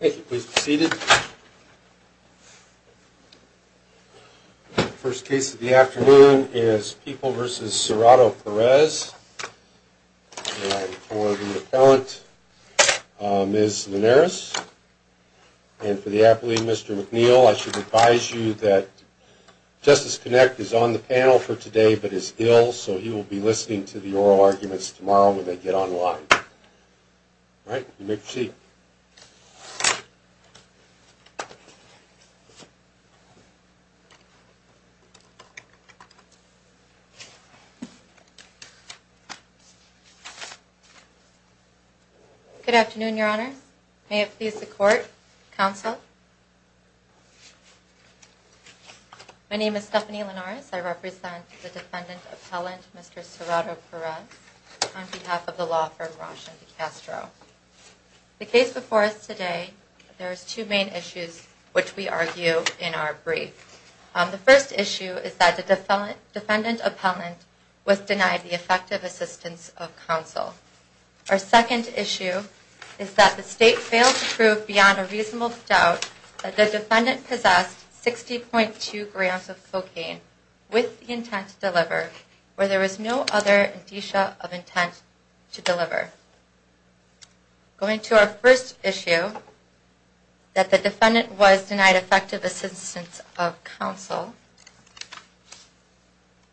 Thank you. Please be seated. The first case of the afternoon is People v. Serrato-Perez. And for the appellant, Ms. Linares. And for the appellee, Mr. McNeil, I should advise you that Justice Connect is on the panel for today but is ill, so he will be listening to the oral arguments tomorrow when they get online. All right. You may proceed. Good afternoon, Your Honor. May it please the Court, Counsel. My name is Stephanie Linares. I represent the defendant appellant, Mr. Serrato-Perez, on behalf of the law firm Roche & DiCastro. The case before us today, there are two main issues which we argue in our brief. The first issue is that the defendant appellant was denied the effective assistance of counsel. Our second issue is that the State failed to prove beyond a reasonable doubt that the defendant possessed 60.2 grams of cocaine with the intent to deliver, where there was no other indicia of intent to deliver. Going to our first issue, that the defendant was denied effective assistance of counsel,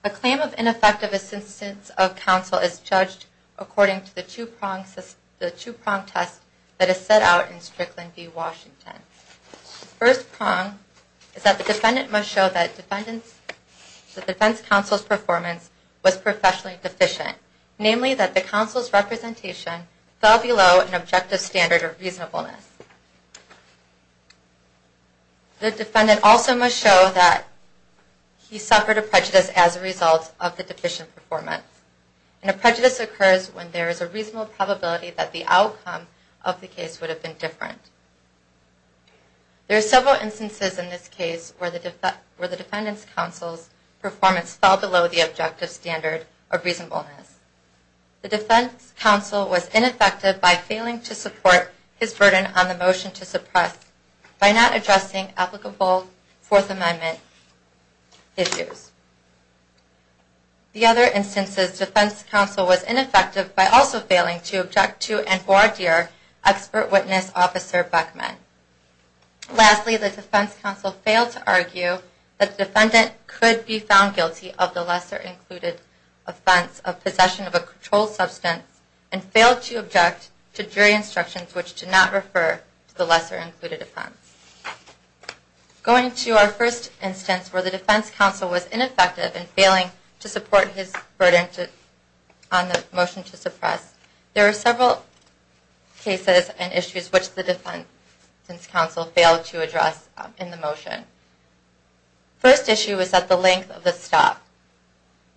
a claim of ineffective assistance of counsel is judged according to the two-prong test that is set out in Strickland v. Washington. The first prong is that the defendant must show that the defense counsel's performance was professionally deficient, namely that the counsel's representation fell below an objective standard of reasonableness. The defendant also must show that he suffered a prejudice as a result of the deficient performance, and a prejudice occurs when there is a reasonable probability that the outcome of the case would have been different. There are several instances in this case where the defendant's counsel's performance fell below the objective standard of reasonableness. The defense counsel was ineffective by failing to support his burden on the motion to suppress by not addressing applicable Fourth Amendment issues. The other instance is defense counsel was ineffective by also failing to object to the defense counsel's assertion that the defendant was guilty of the lesser included offense of possession of a controlled substance, and failed to object to jury instructions which did not refer to the lesser included offense. Going to our first instance where the defense counsel was ineffective in failing to support his burden on the motion to suppress, there are three cases and issues which the defense counsel failed to address in the motion. First issue is at the length of the stop.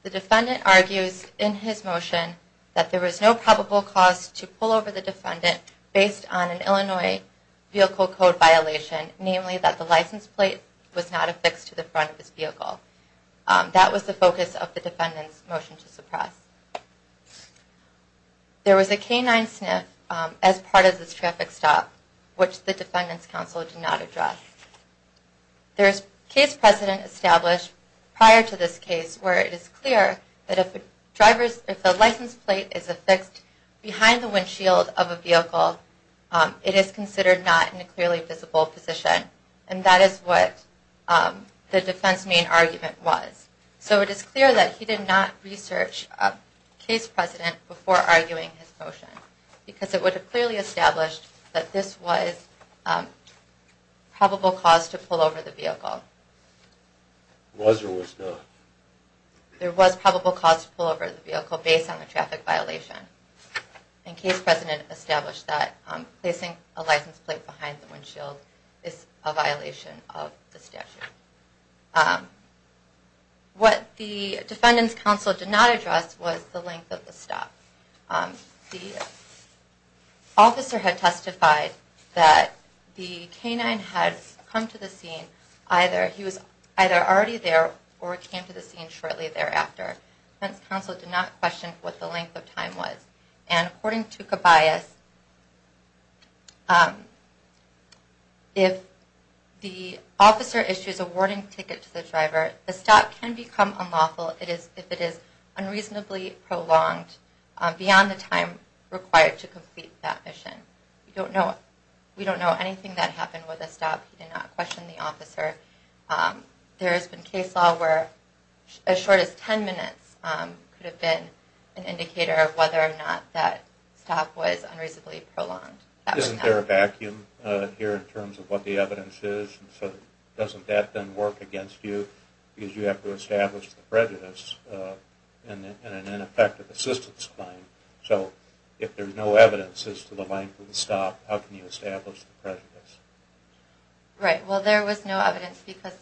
The defendant argues in his motion that there was no probable cause to pull over the defendant based on an Illinois Vehicle Code violation, namely that the license plate was not affixed to the front of his vehicle. There was a canine sniff as part of this traffic stop, which the defendant's counsel did not address. There is case precedent established prior to this case where it is clear that if the license plate is affixed behind the windshield of a vehicle, it is considered not in a clearly visible position, and that is what the defense main argument was. So it is clear that he did not research case precedent before arguing his motion, because it would have clearly established that this was probable cause to pull over the vehicle. Was or was not? There was probable cause to pull over the vehicle based on the traffic violation, and case precedent established that placing a license plate behind the windshield is a violation of the statute. What the defendant's counsel did not address was the length of the stop. The officer had testified that the canine had come to the scene. He was either already there or came to the scene shortly thereafter. The defense counsel did not question what the length of time was. And according to Cabayas, if the officer issues a warning ticket to the driver, the stop can become unlawful if it is unreasonably prolonged beyond the time required to complete that mission. We don't know anything that happened with the stop. He did not question the officer. There has been case law where as short as ten minutes could have been an indicator of whether or not that stop was unreasonably prolonged. Isn't there a vacuum here in terms of what the evidence is? Doesn't that then work against you? Because you have to establish the prejudice in an ineffective assistance claim. So if there's no evidence as to the length of the stop, how can you establish the prejudice? Right, well there was no evidence because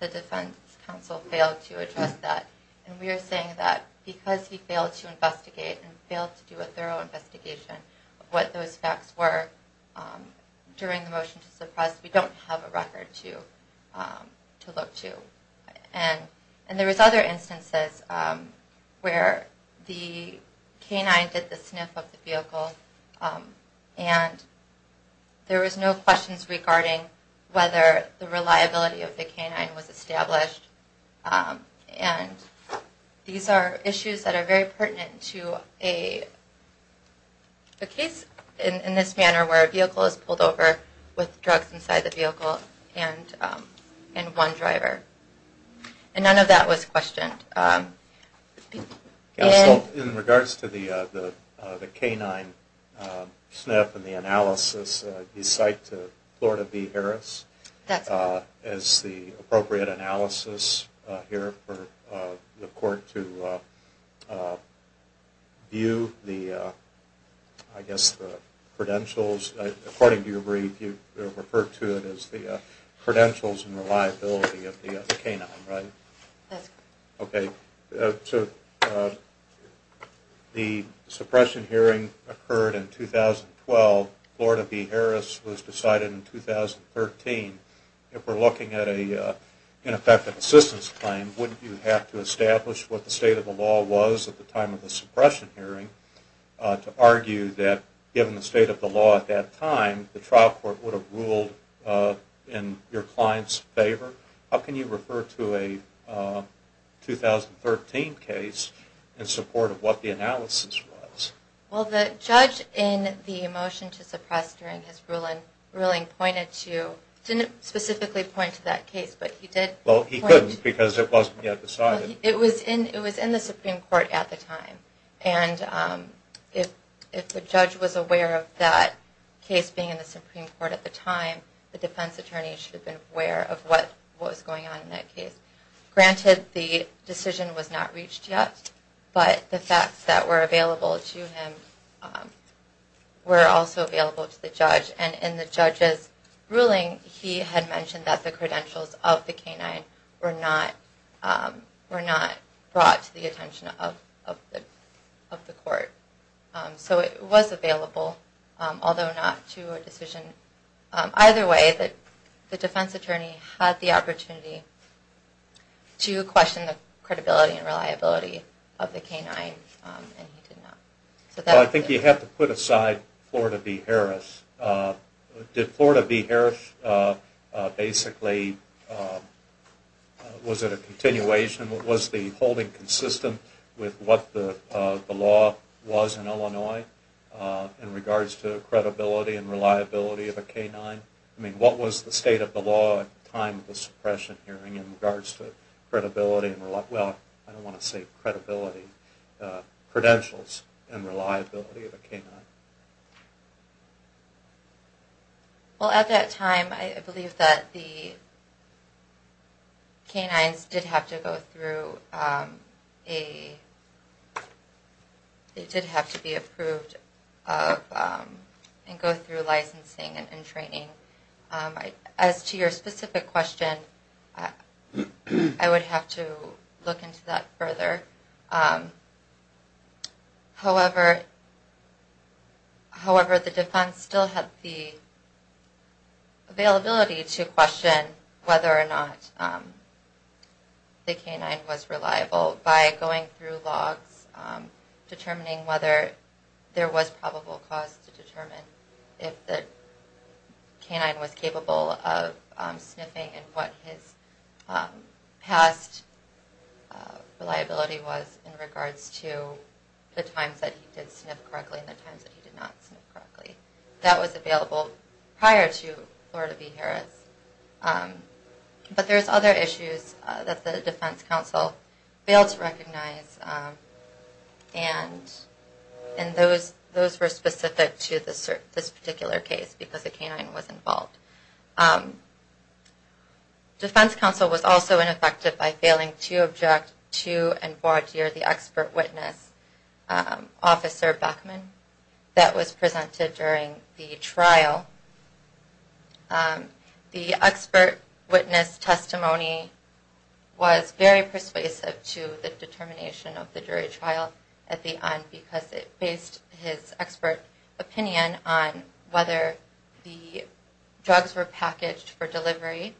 the defense counsel failed to address that. And we are saying that because he failed to investigate and failed to do a thorough investigation of what those facts were during the motion to suppress, we don't have a record to look to. And there was other instances where the canine did the sniff of the vehicle and there was no questions regarding whether the reliability of the canine was established. And these are issues that are very pertinent to a case in this manner where a vehicle is pulled over with drugs inside the vehicle and one driver. And none of that was questioned. Counsel, in regards to the canine sniff and the analysis, you cite Florida v. Harris as the appropriate analysis here for the court to view the, I guess, the credentials. According to your brief, you referred to it as the credentials and reliability of the canine, right? That's correct. Okay, so the suppression hearing occurred in 2012. Florida v. Harris was decided in 2013. If we're looking at an ineffective assistance claim, wouldn't you have to establish what the state of the law was at the time of the suppression hearing to argue that, given the state of the law at that time, the trial court would have ruled in your client's favor? How can you refer to a 2013 case in support of what the analysis was? Well, the judge in the motion to suppress during his ruling pointed to, didn't specifically point to that case, but he did point... Well, he couldn't because it wasn't yet decided. It was in the Supreme Court at the time. And if the judge was aware of that case being in the Supreme Court at the time, the defense attorney should have been aware of what was going on in that case. Granted, the decision was not reached yet, but the facts that were available to him were also available to the judge. And in the judge's ruling, he had mentioned that the credentials of the canine were not brought to the attention of the court. So it was available, although not to a decision. Either way, the defense attorney had the opportunity to question the credibility and reliability of the canine, and he did not. Well, I think you have to put aside Florida v. Harris. Did Florida v. Harris basically... Was it a continuation? Was the holding consistent with what the law was in Illinois in regards to credibility and reliability of a canine? I mean, what was the state of the law at the time of the suppression hearing in regards to credibility and reliability... Well, I don't want to say credibility. Credentials and reliability of a canine. Well, at that time, I believe that the canines did have to go through a... They did have to be approved and go through licensing and training. As to your specific question, I would have to look into that further. However, the defense still had the availability to question whether or not the canine was reliable by going through logs, determining whether there was probable cause to determine if the canine was capable of sniffing and what his past reliability was. In regards to the times that he did sniff correctly and the times that he did not sniff correctly. That was available prior to Florida v. Harris. But there's other issues that the defense counsel failed to recognize. And those were specific to this particular case because the canine was involved. Defense counsel was also ineffective by failing to object to and forward to the expert witness, Officer Beckman, that was presented during the trial. The expert witness testimony was very persuasive to the determination of the jury trial at the end because it based his expert opinion on whether the drugs were packaged for delivery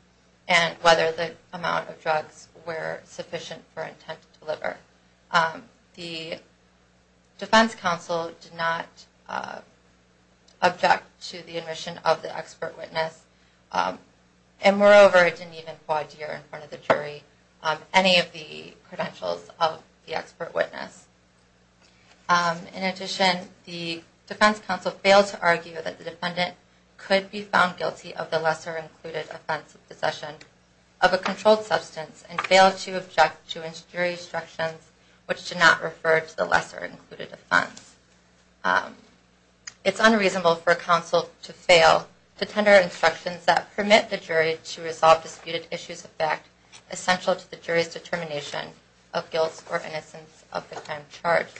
and whether the amount of drugs were sufficient for intent to deliver. The defense counsel did not object to the admission of the expert witness. And moreover, it didn't even quadeer in front of the jury any of the credentials of the expert witness. In addition, the defense counsel failed to argue that the defendant could be found guilty of the lesser included offense of possession of a controlled substance and failed to object to jury instructions which did not refer to the lesser included offense. It's unreasonable for a counsel to fail to tender instructions that permit the jury to resolve disputed issues of fact essential to the jury's determination of guilt or innocence of the crime charged.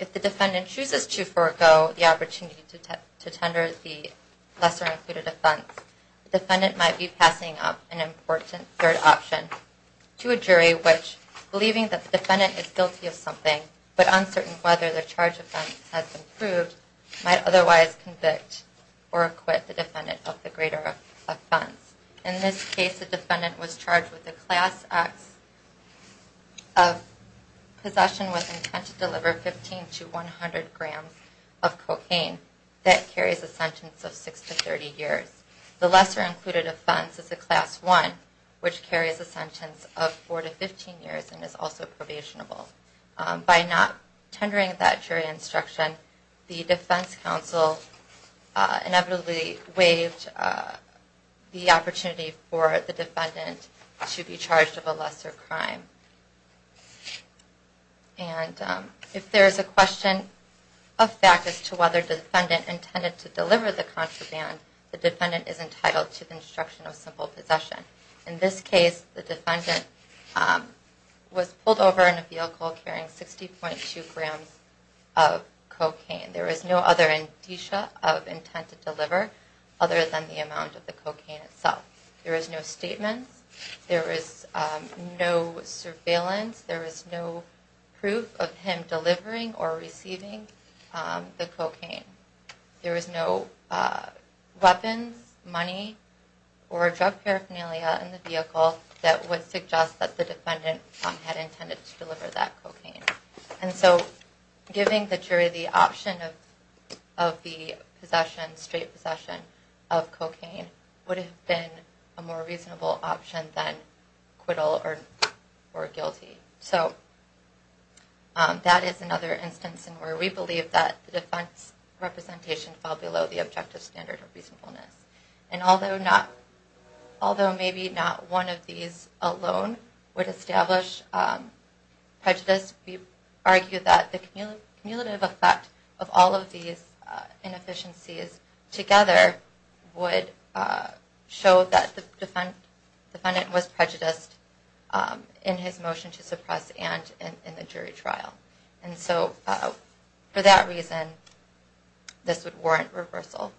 If the defendant chooses to forego the opportunity to tender the lesser included offense, the defendant might be passing up an important third option to a jury which, believing that the defendant is guilty of something but uncertain whether the charge of offense has been proved, might otherwise convict or acquit the defendant of the greater offense. In this case, the defendant was charged with a Class X of possession with intent to deliver 15 to 100 grams of cocaine that carries a sentence of 6 to 30 years. In this case, the defense is a Class I which carries a sentence of 4 to 15 years and is also probationable. By not tendering that jury instruction, the defense counsel inevitably waived the opportunity for the defendant to be charged of a lesser crime. And if there is a question of fact as to whether the defendant intended to deliver the contraband, the defendant is entitled to the instruction of simple possession. In this case, the defendant was pulled over in a vehicle carrying 60.2 grams of cocaine. There is no other indicia of intent to deliver other than the amount of the cocaine itself. There is no statement. There is no surveillance. There is no proof of him delivering or receiving the cocaine. There is no weapons, money, or drug paraphernalia in the vehicle that would suggest that the defendant had intended to deliver that cocaine. And so giving the jury the option of the straight possession of cocaine would have been a more reasonable option than acquittal or guilty. So that is another instance where we believe that the defense representation fell below the objective standard of reasonableness. And although maybe not one of these alone would establish prejudice, we argue that the cumulative effect of all of these inefficiencies together would show that the defendant was prejudiced in his motion to suppress and in the jury trial. And so for that reason, this would warrant reversal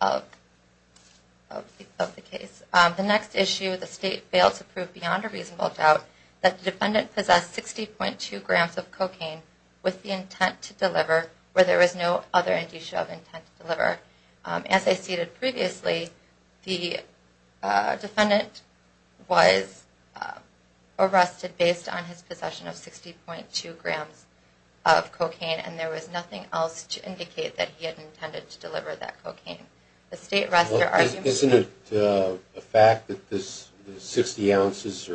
of the case. The next issue, the state failed to prove beyond a reasonable doubt that the defendant possessed 60.2 grams of cocaine with the intent to deliver where there is no other indicia of intent to deliver. As I stated previously, the defendant was arrested based on his possession of 60.2 grams of cocaine. And there was nothing else to indicate that he had intended to deliver that cocaine. The state arrested... Isn't it a fact that this 60 ounces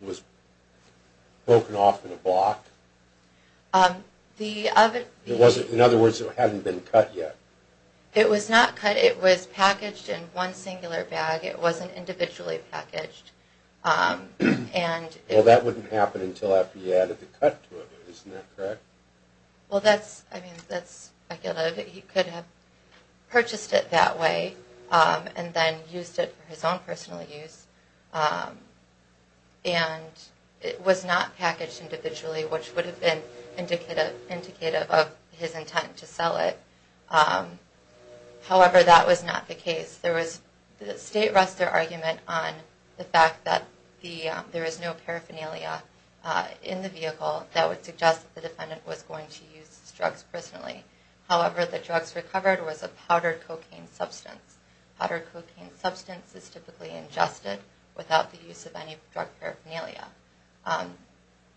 was broken off in a block? In other words, it hadn't been cut yet. It was not cut. It was packaged in one singular bag. It wasn't individually packaged. Well, that wouldn't happen until after you added the cut to it. Isn't that correct? Well, that's speculative. He could have purchased it that way and then used it for his own personal use. And it was not packaged individually which would have been indicative of his intent to sell it. However, that was not the case. The state rests their argument on the fact that there is no paraphernalia in the vehicle that would suggest that the defendant was going to use drugs personally. However, the drugs recovered was a powdered cocaine substance. Powdered cocaine substance is typically ingested without the use of any drug paraphernalia.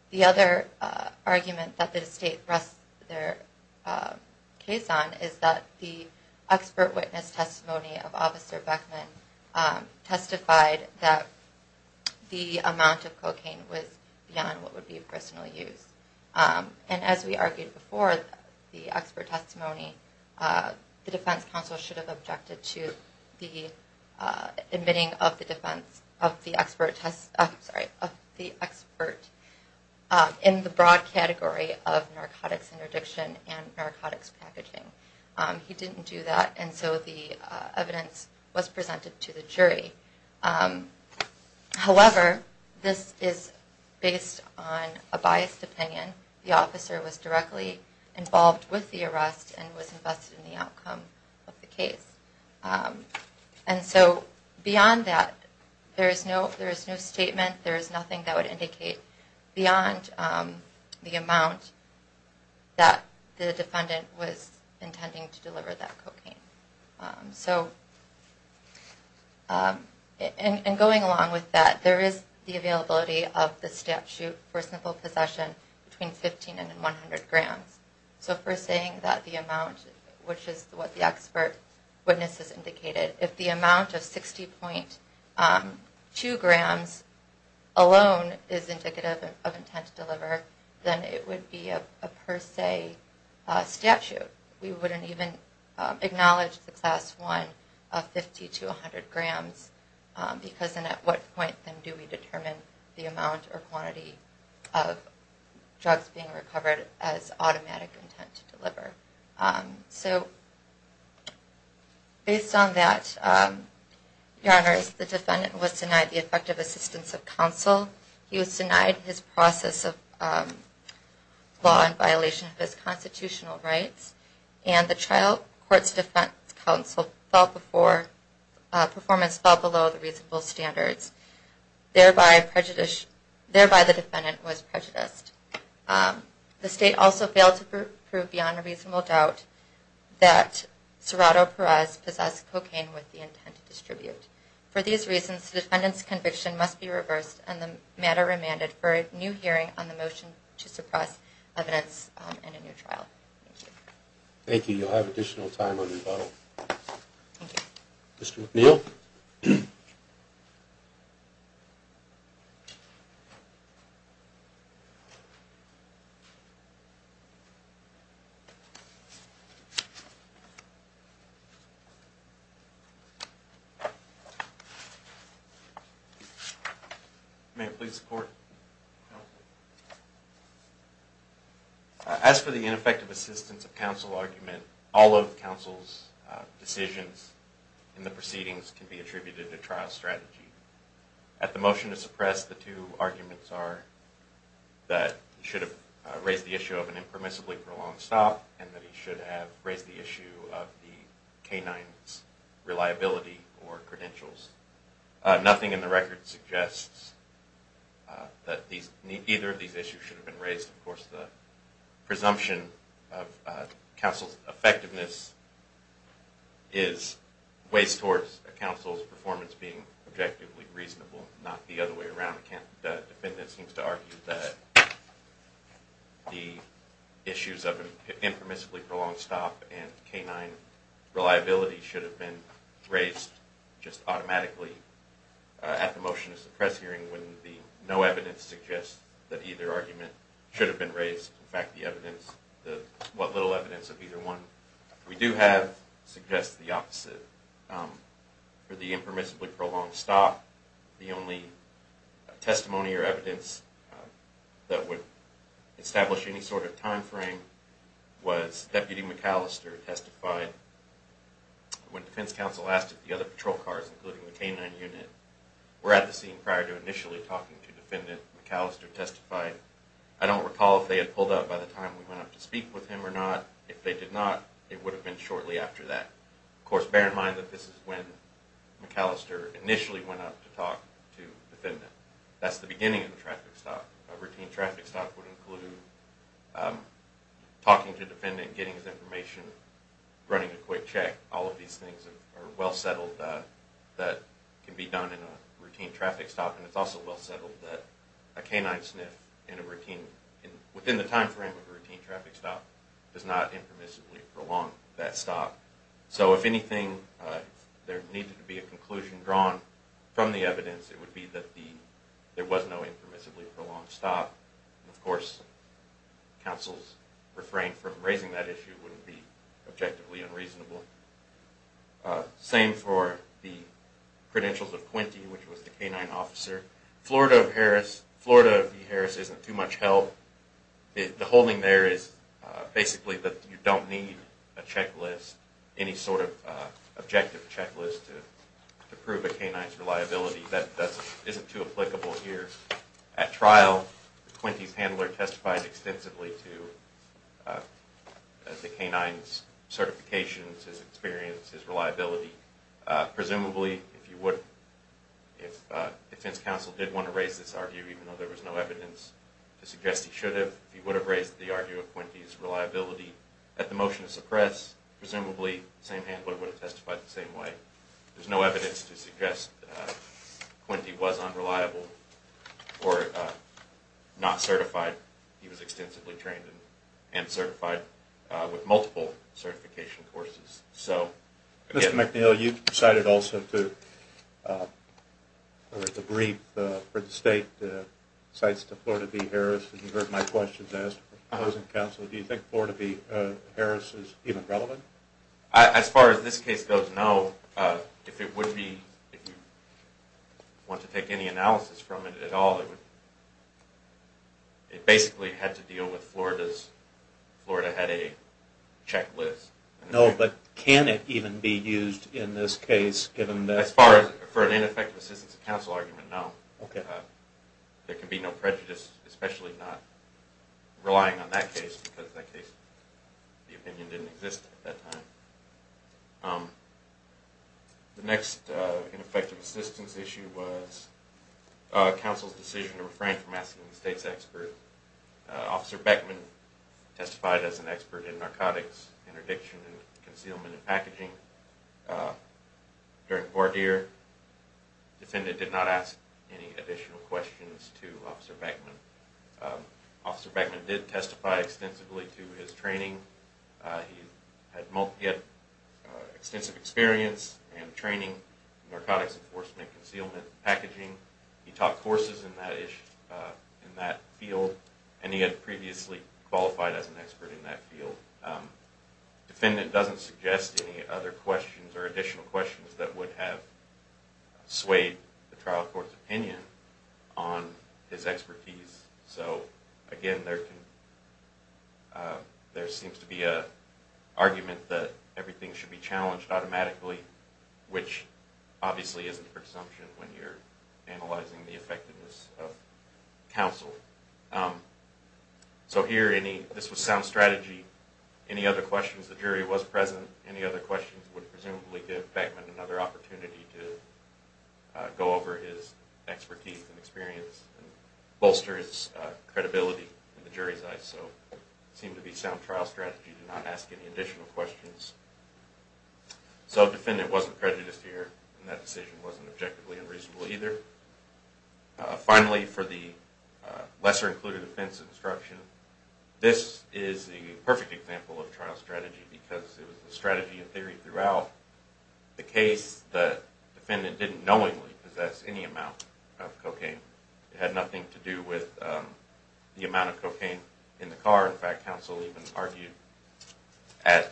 The other argument that the state rests their case on is that the expert witness testimony of Officer Beckman testified that the amount of cocaine was beyond what would be personal use. And as we argued before, the expert testimony, the defense counsel should have objected to the admitting of the expert in the broad category of narcotics interdiction and narcotics packaging. He didn't do that and so the evidence was presented to the jury. However, this is based on a biased opinion. The officer was directly involved with the arrest and was invested in the outcome of the case. And so beyond that, there is no statement, there is nothing that would indicate beyond the amount that the defendant was intending to deliver that cocaine. And going along with that, there is the availability of the statute for simple possession between 15 and 100 grams. So if we're saying that the amount, which is what the expert witness has indicated, if the amount of 60.2 grams alone is indicative of intent to deliver, then it would be a per se statute. We wouldn't even acknowledge the Class I of 50 to 100 grams because then at what point do we determine the amount or quantity of drugs being recovered as automatic intent to deliver. So based on that, Your Honors, the defendant was denied the effective assistance of counsel. He was denied his process of law in violation of his constitutional rights. And the trial court's defense counsel performance fell below the reasonable standards. Thereby the defendant was prejudiced. The state also failed to prove beyond a reasonable doubt that Serrato Perez possessed cocaine with the intent to distribute. For these reasons, the defendant's conviction must be reversed and the matter remanded for a new hearing on the motion to suppress evidence in a new trial. Thank you. You'll have additional time on rebuttal. Thank you. Mr. McNeil. Please support. As for the ineffective assistance of counsel argument, all of counsel's decisions in the proceedings can be attributed to trial strategy. At the motion to suppress, the two arguments are that he should have raised the issue of an impermissibly prolonged stop and that he should have raised the issue of the canine's reliability or credentials. Nothing in the record suggests that either of these issues should have been raised. Of course, the presumption of counsel's effectiveness weighs towards counsel's performance being objectively reasonable, not the other way around. The defendant seems to argue that the issues of an impermissibly prolonged stop and canine reliability should have been raised just automatically at the motion to suppress hearing when the no evidence suggests that either argument should have been raised. In fact, what little evidence of either one we do have suggests the opposite. For the impermissibly prolonged stop, the only testimony or evidence that would establish any sort of time frame was Deputy McAllister testifying. When defense counsel asked if the other patrol cars, including the canine unit, were at the scene prior to initially talking to defendant, McAllister testified, I don't recall if they had pulled up by the time we went up to speak with him or not. If they did not, it would have been shortly after that. Of course, bear in mind that this is when McAllister initially went up to talk to defendant. That's the beginning of a traffic stop. A routine traffic stop would include talking to defendant, getting his information, running a quick check. All of these things are well settled that can be done in a routine traffic stop. It's also well settled that a canine sniff within the time frame of a routine traffic stop does not impermissibly prolong that stop. If there needed to be a conclusion drawn from the evidence, it would be that there was no impermissibly prolonged stop. Of course, counsel's refrain from raising that issue would be objectively unreasonable. Same for the credentials of Quinty, which was the canine officer. Florida of Harris, Florida of D. Harris isn't too much help. The holding there is basically that you don't need a checklist, any sort of objective checklist to prove a canine's reliability. That isn't too applicable here. At trial, Quinty's handler testifies extensively to the canine's certifications, his experience, his reliability. Presumably, if defense counsel did want to raise this argument, even though there was no evidence to suggest he should have, he would have raised the argument of Quinty's reliability. At the motion to suppress, presumably the same handler would have testified the same way. There's no evidence to suggest Quinty was unreliable. Or not certified. He was extensively trained and certified with multiple certification courses. Mr. McNeil, you've decided also to... the brief for the state cites the Florida of D. Harris. You've heard my questions as to the closing counsel. Do you think Florida of D. Harris is even relevant? As far as this case goes, no. If it would be, if you want to take any analysis from it at all, it basically had to deal with Florida's, Florida had a checklist. No, but can it even be used in this case, given that... As far as, for an ineffective assistance of counsel argument, no. Okay. There can be no prejudice, especially not relying on that case, because that case, the opinion didn't exist at that time. The next ineffective assistance issue was counsel's decision to refrain from asking the state's expert. Officer Beckman testified as an expert in narcotics interdiction and concealment and packaging. During voir dire, defendant did not ask any additional questions to Officer Beckman. Officer Beckman did testify extensively to his training. He had extensive experience and training in narcotics enforcement and concealment and packaging. He taught courses in that field, and he had previously qualified as an expert in that field. Defendant doesn't suggest any other questions or additional questions that would have swayed the trial court's opinion on his expertise. So, again, there seems to be an argument that everything should be challenged automatically, which obviously isn't a presumption when you're analyzing the effectiveness of counsel. So here, this was sound strategy. Any other questions, the jury was present. Any other questions would presumably give Beckman another opportunity to go over his expertise and experience and bolster his credibility in the jury's eyes. So it seemed to be sound trial strategy to not ask any additional questions. So defendant wasn't prejudiced here, and that decision wasn't objectively unreasonable either. Finally, for the lesser-included offensive instruction, this is the perfect example of trial strategy because it was the strategy and theory throughout the case that the defendant didn't knowingly possess any amount of cocaine. It had nothing to do with the amount of cocaine in the car. In fact, counsel even argued at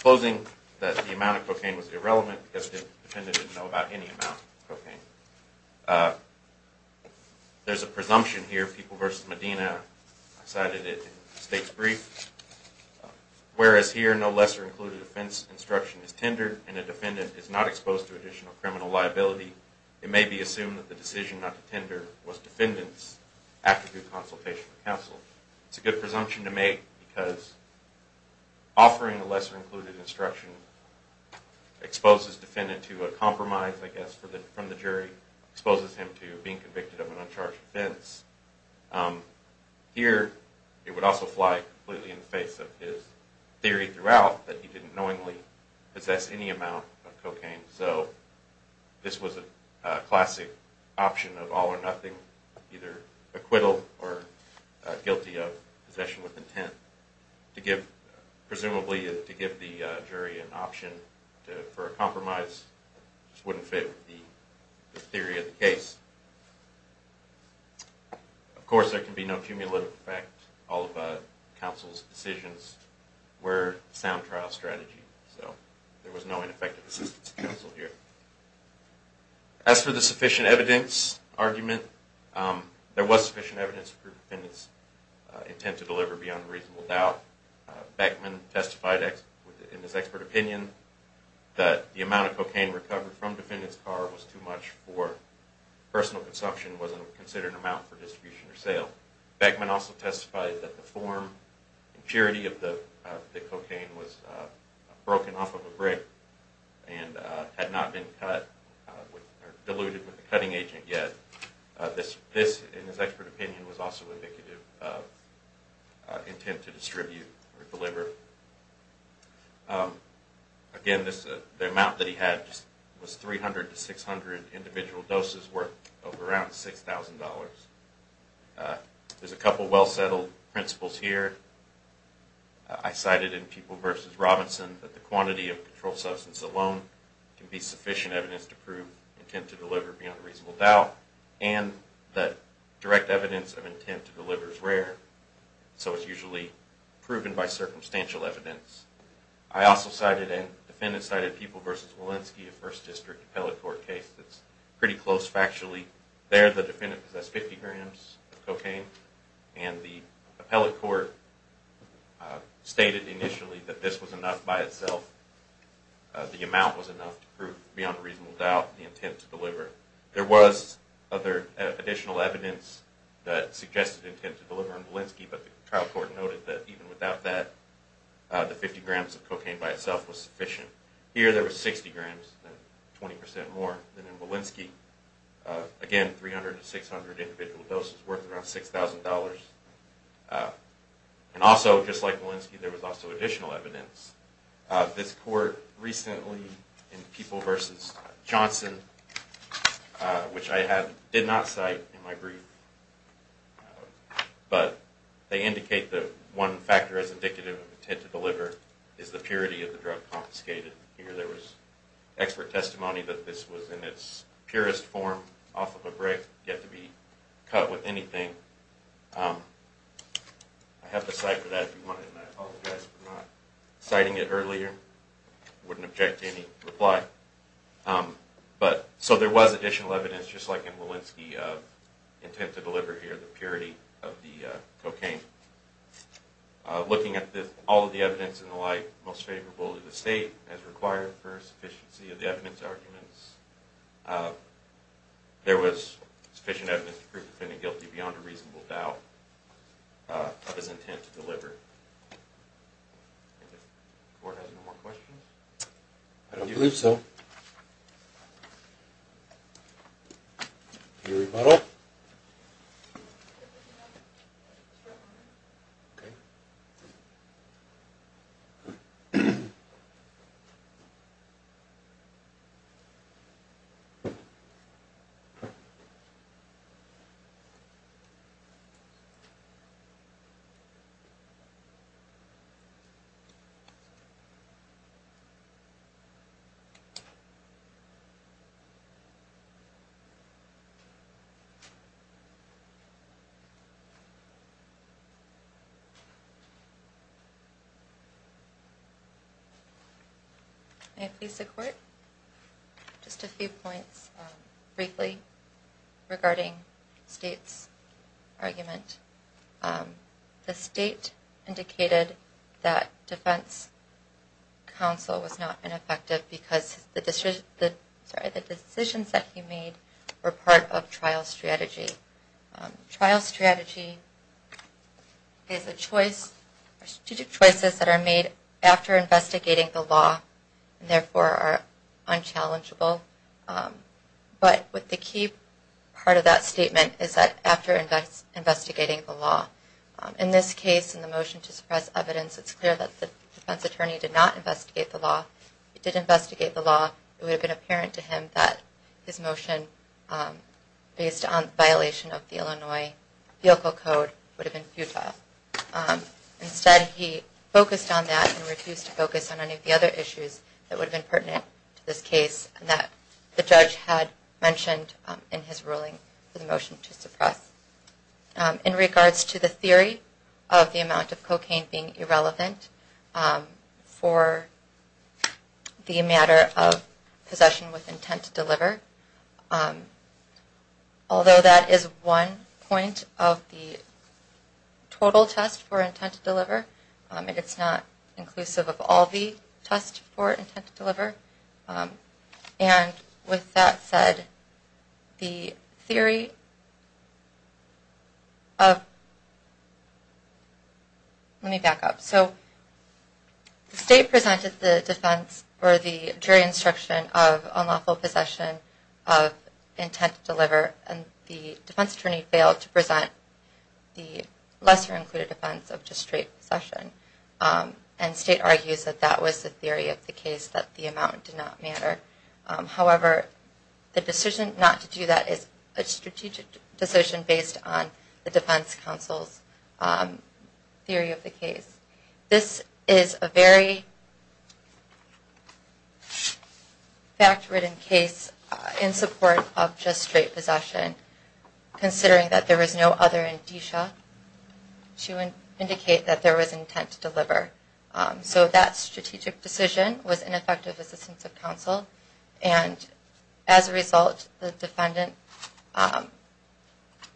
closing that the amount of cocaine was irrelevant because the defendant didn't know about any amount of cocaine. There's a presumption here. People v. Medina cited it in the state's brief. Whereas here, no lesser-included offense instruction is tendered and a defendant is not exposed to additional criminal liability, it may be assumed that the decision not to tender was defendant's after due consultation with counsel. It's a good presumption to make because offering a lesser-included instruction exposes defendant to a compromise, I guess, from the jury, exposes him to being convicted of an uncharged offense. Here, it would also fly completely in the face of his theory throughout that he didn't knowingly possess any amount of cocaine. So, this was a classic option of all or nothing, either acquittal or guilty of possession with intent. Presumably, to give the jury an option for a compromise just wouldn't fit the theory of the case. Of course, there can be no cumulative effect. All of counsel's decisions were sound trial strategy. So, there was no ineffective assistance to counsel here. As for the sufficient evidence argument, there was sufficient evidence for the defendant's intent to deliver beyond reasonable doubt. Beckman testified in his expert opinion that the amount of cocaine recovered from the defendant's car was too much for personal consumption and wasn't considered an amount for distribution or sale. Beckman also testified that the form and purity of the cocaine was broken off of a brick and had not been cut or diluted with a cutting agent yet. This, in his expert opinion, was also indicative of intent to distribute or deliver. Again, the amount that he had was 300 to 600 individual doses worth of around $6,000. There's a couple of well-settled principles here. I cited in People v. Robinson that the quantity of controlled substance alone can be sufficient evidence to prove intent to deliver beyond reasonable doubt and that direct evidence of intent to deliver is rare. So it's usually proven by circumstantial evidence. I also cited in People v. Walensky a First District Appellate Court case that's pretty close factually. There, the defendant possessed 50 grams of cocaine and the Appellate Court stated initially that this was enough by itself. The amount was enough to prove beyond reasonable doubt the intent to deliver. There was other additional evidence that suggested intent to deliver in Walensky, but the trial court noted that even without that, the 50 grams of cocaine by itself was sufficient. Here, there was 60 grams, 20% more than in Walensky. Again, 300 to 600 individual doses worth around $6,000. And also, just like Walensky, there was also additional evidence. This court recently in People v. Johnson, which I did not cite in my brief, but they indicate that one factor as indicative of intent to deliver is the purity of the drug confiscated. Here, there was expert testimony that this was in its purest form, off of a brick, yet to be cut with anything. I have the cite for that if you want it, and I apologize for not citing it earlier. I wouldn't object to any reply. So there was additional evidence, just like in Walensky, of the intent to deliver here, the purity of the cocaine. Looking at all of the evidence and the like, most favorable to the state, as required, for sufficiency of the evidence arguments, there was sufficient evidence to prove the defendant guilty beyond a reasonable doubt of his intent to deliver. Does the court have any more questions? I don't believe so. Thank you. Any rebuttal? Any opposition? May I please see the court? Just a few points, briefly, regarding the state's argument. The state indicated that defense counsel was not ineffective because the decisions that he made were part of trial strategy. Trial strategy is a choice, strategic choices that are made after investigating the law, and therefore are unchallengeable. But the key part of that statement is that after investigating the law. In this case, in the motion to suppress evidence, it's clear that the defense attorney did not investigate the law. It would have been apparent to him that his motion, based on violation of the Illinois Vehicle Code, would have been futile. Instead, he focused on that and refused to focus on any of the other issues that would have been pertinent to this case, and that the judge had mentioned in his ruling for the motion to suppress. In regards to the theory of the amount of cocaine being irrelevant for the matter of possession with intent to deliver. Although that is one point of the total test for intent to deliver, it's not inclusive of all the tests for intent to deliver. And with that said, the theory of... Let me back up. So the state presented the defense or the jury instruction of unlawful possession of intent to deliver, and the defense attorney failed to present the lesser included offense of just straight possession. And state argues that that was the theory of the case, that the amount did not matter. However, the decision not to do that is a strategic decision based on the defense counsel's theory of the case. This is a very fact-ridden case in support of just straight possession, considering that there was no other indicia to indicate that there was intent to deliver. And as a result, the defendant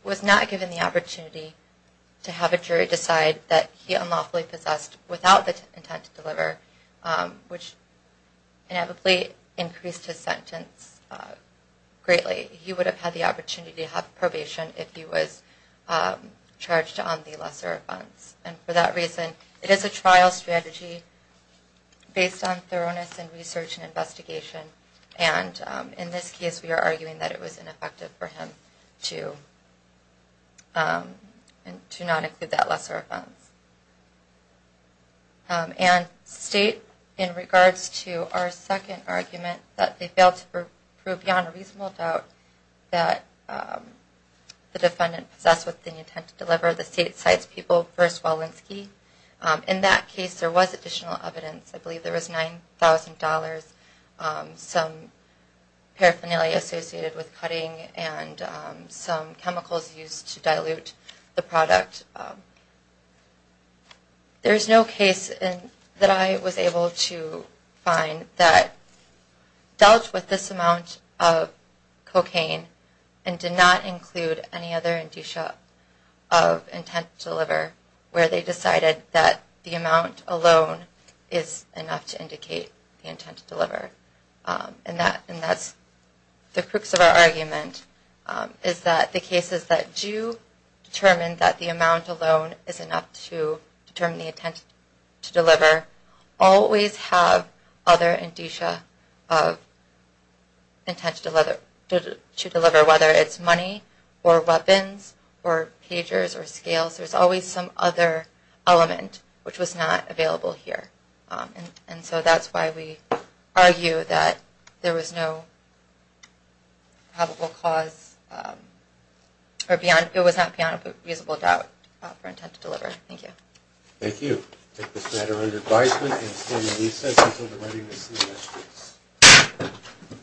was not given the opportunity to have a jury decide that he unlawfully possessed without the intent to deliver, which inevitably increased his sentence greatly. He would have had the opportunity to have probation if he was charged on the lesser offense. And for that reason, it is a trial strategy based on thoroughness and research and investigation. And in this case, we are arguing that it was ineffective for him to not include that lesser offense. And state, in regards to our second argument, that they failed to prove beyond a reasonable doubt that the defendant possessed with the intent to deliver, the state cites people, first Walensky. In that case, there was additional evidence. I believe there was $9,000, some paraphernalia associated with cutting, and some chemicals used to dilute the product. There is no case that I was able to find that dealt with this amount of cocaine and did not include any other indicia of intent to deliver where they decided that the amount alone is enough to indicate the intent to deliver. And that's the crux of our argument, is that the cases that do determine that the amount alone is enough to determine the intent to deliver always have other indicia of intent to deliver, whether it's money or weapons or pagers or scales. There was some other element which was not available here. And so that's why we argue that there was no probable cause or it was not beyond a reasonable doubt for intent to deliver. Thank you. Thank you. I take this matter under advisement and stand in recess until the writing is seen.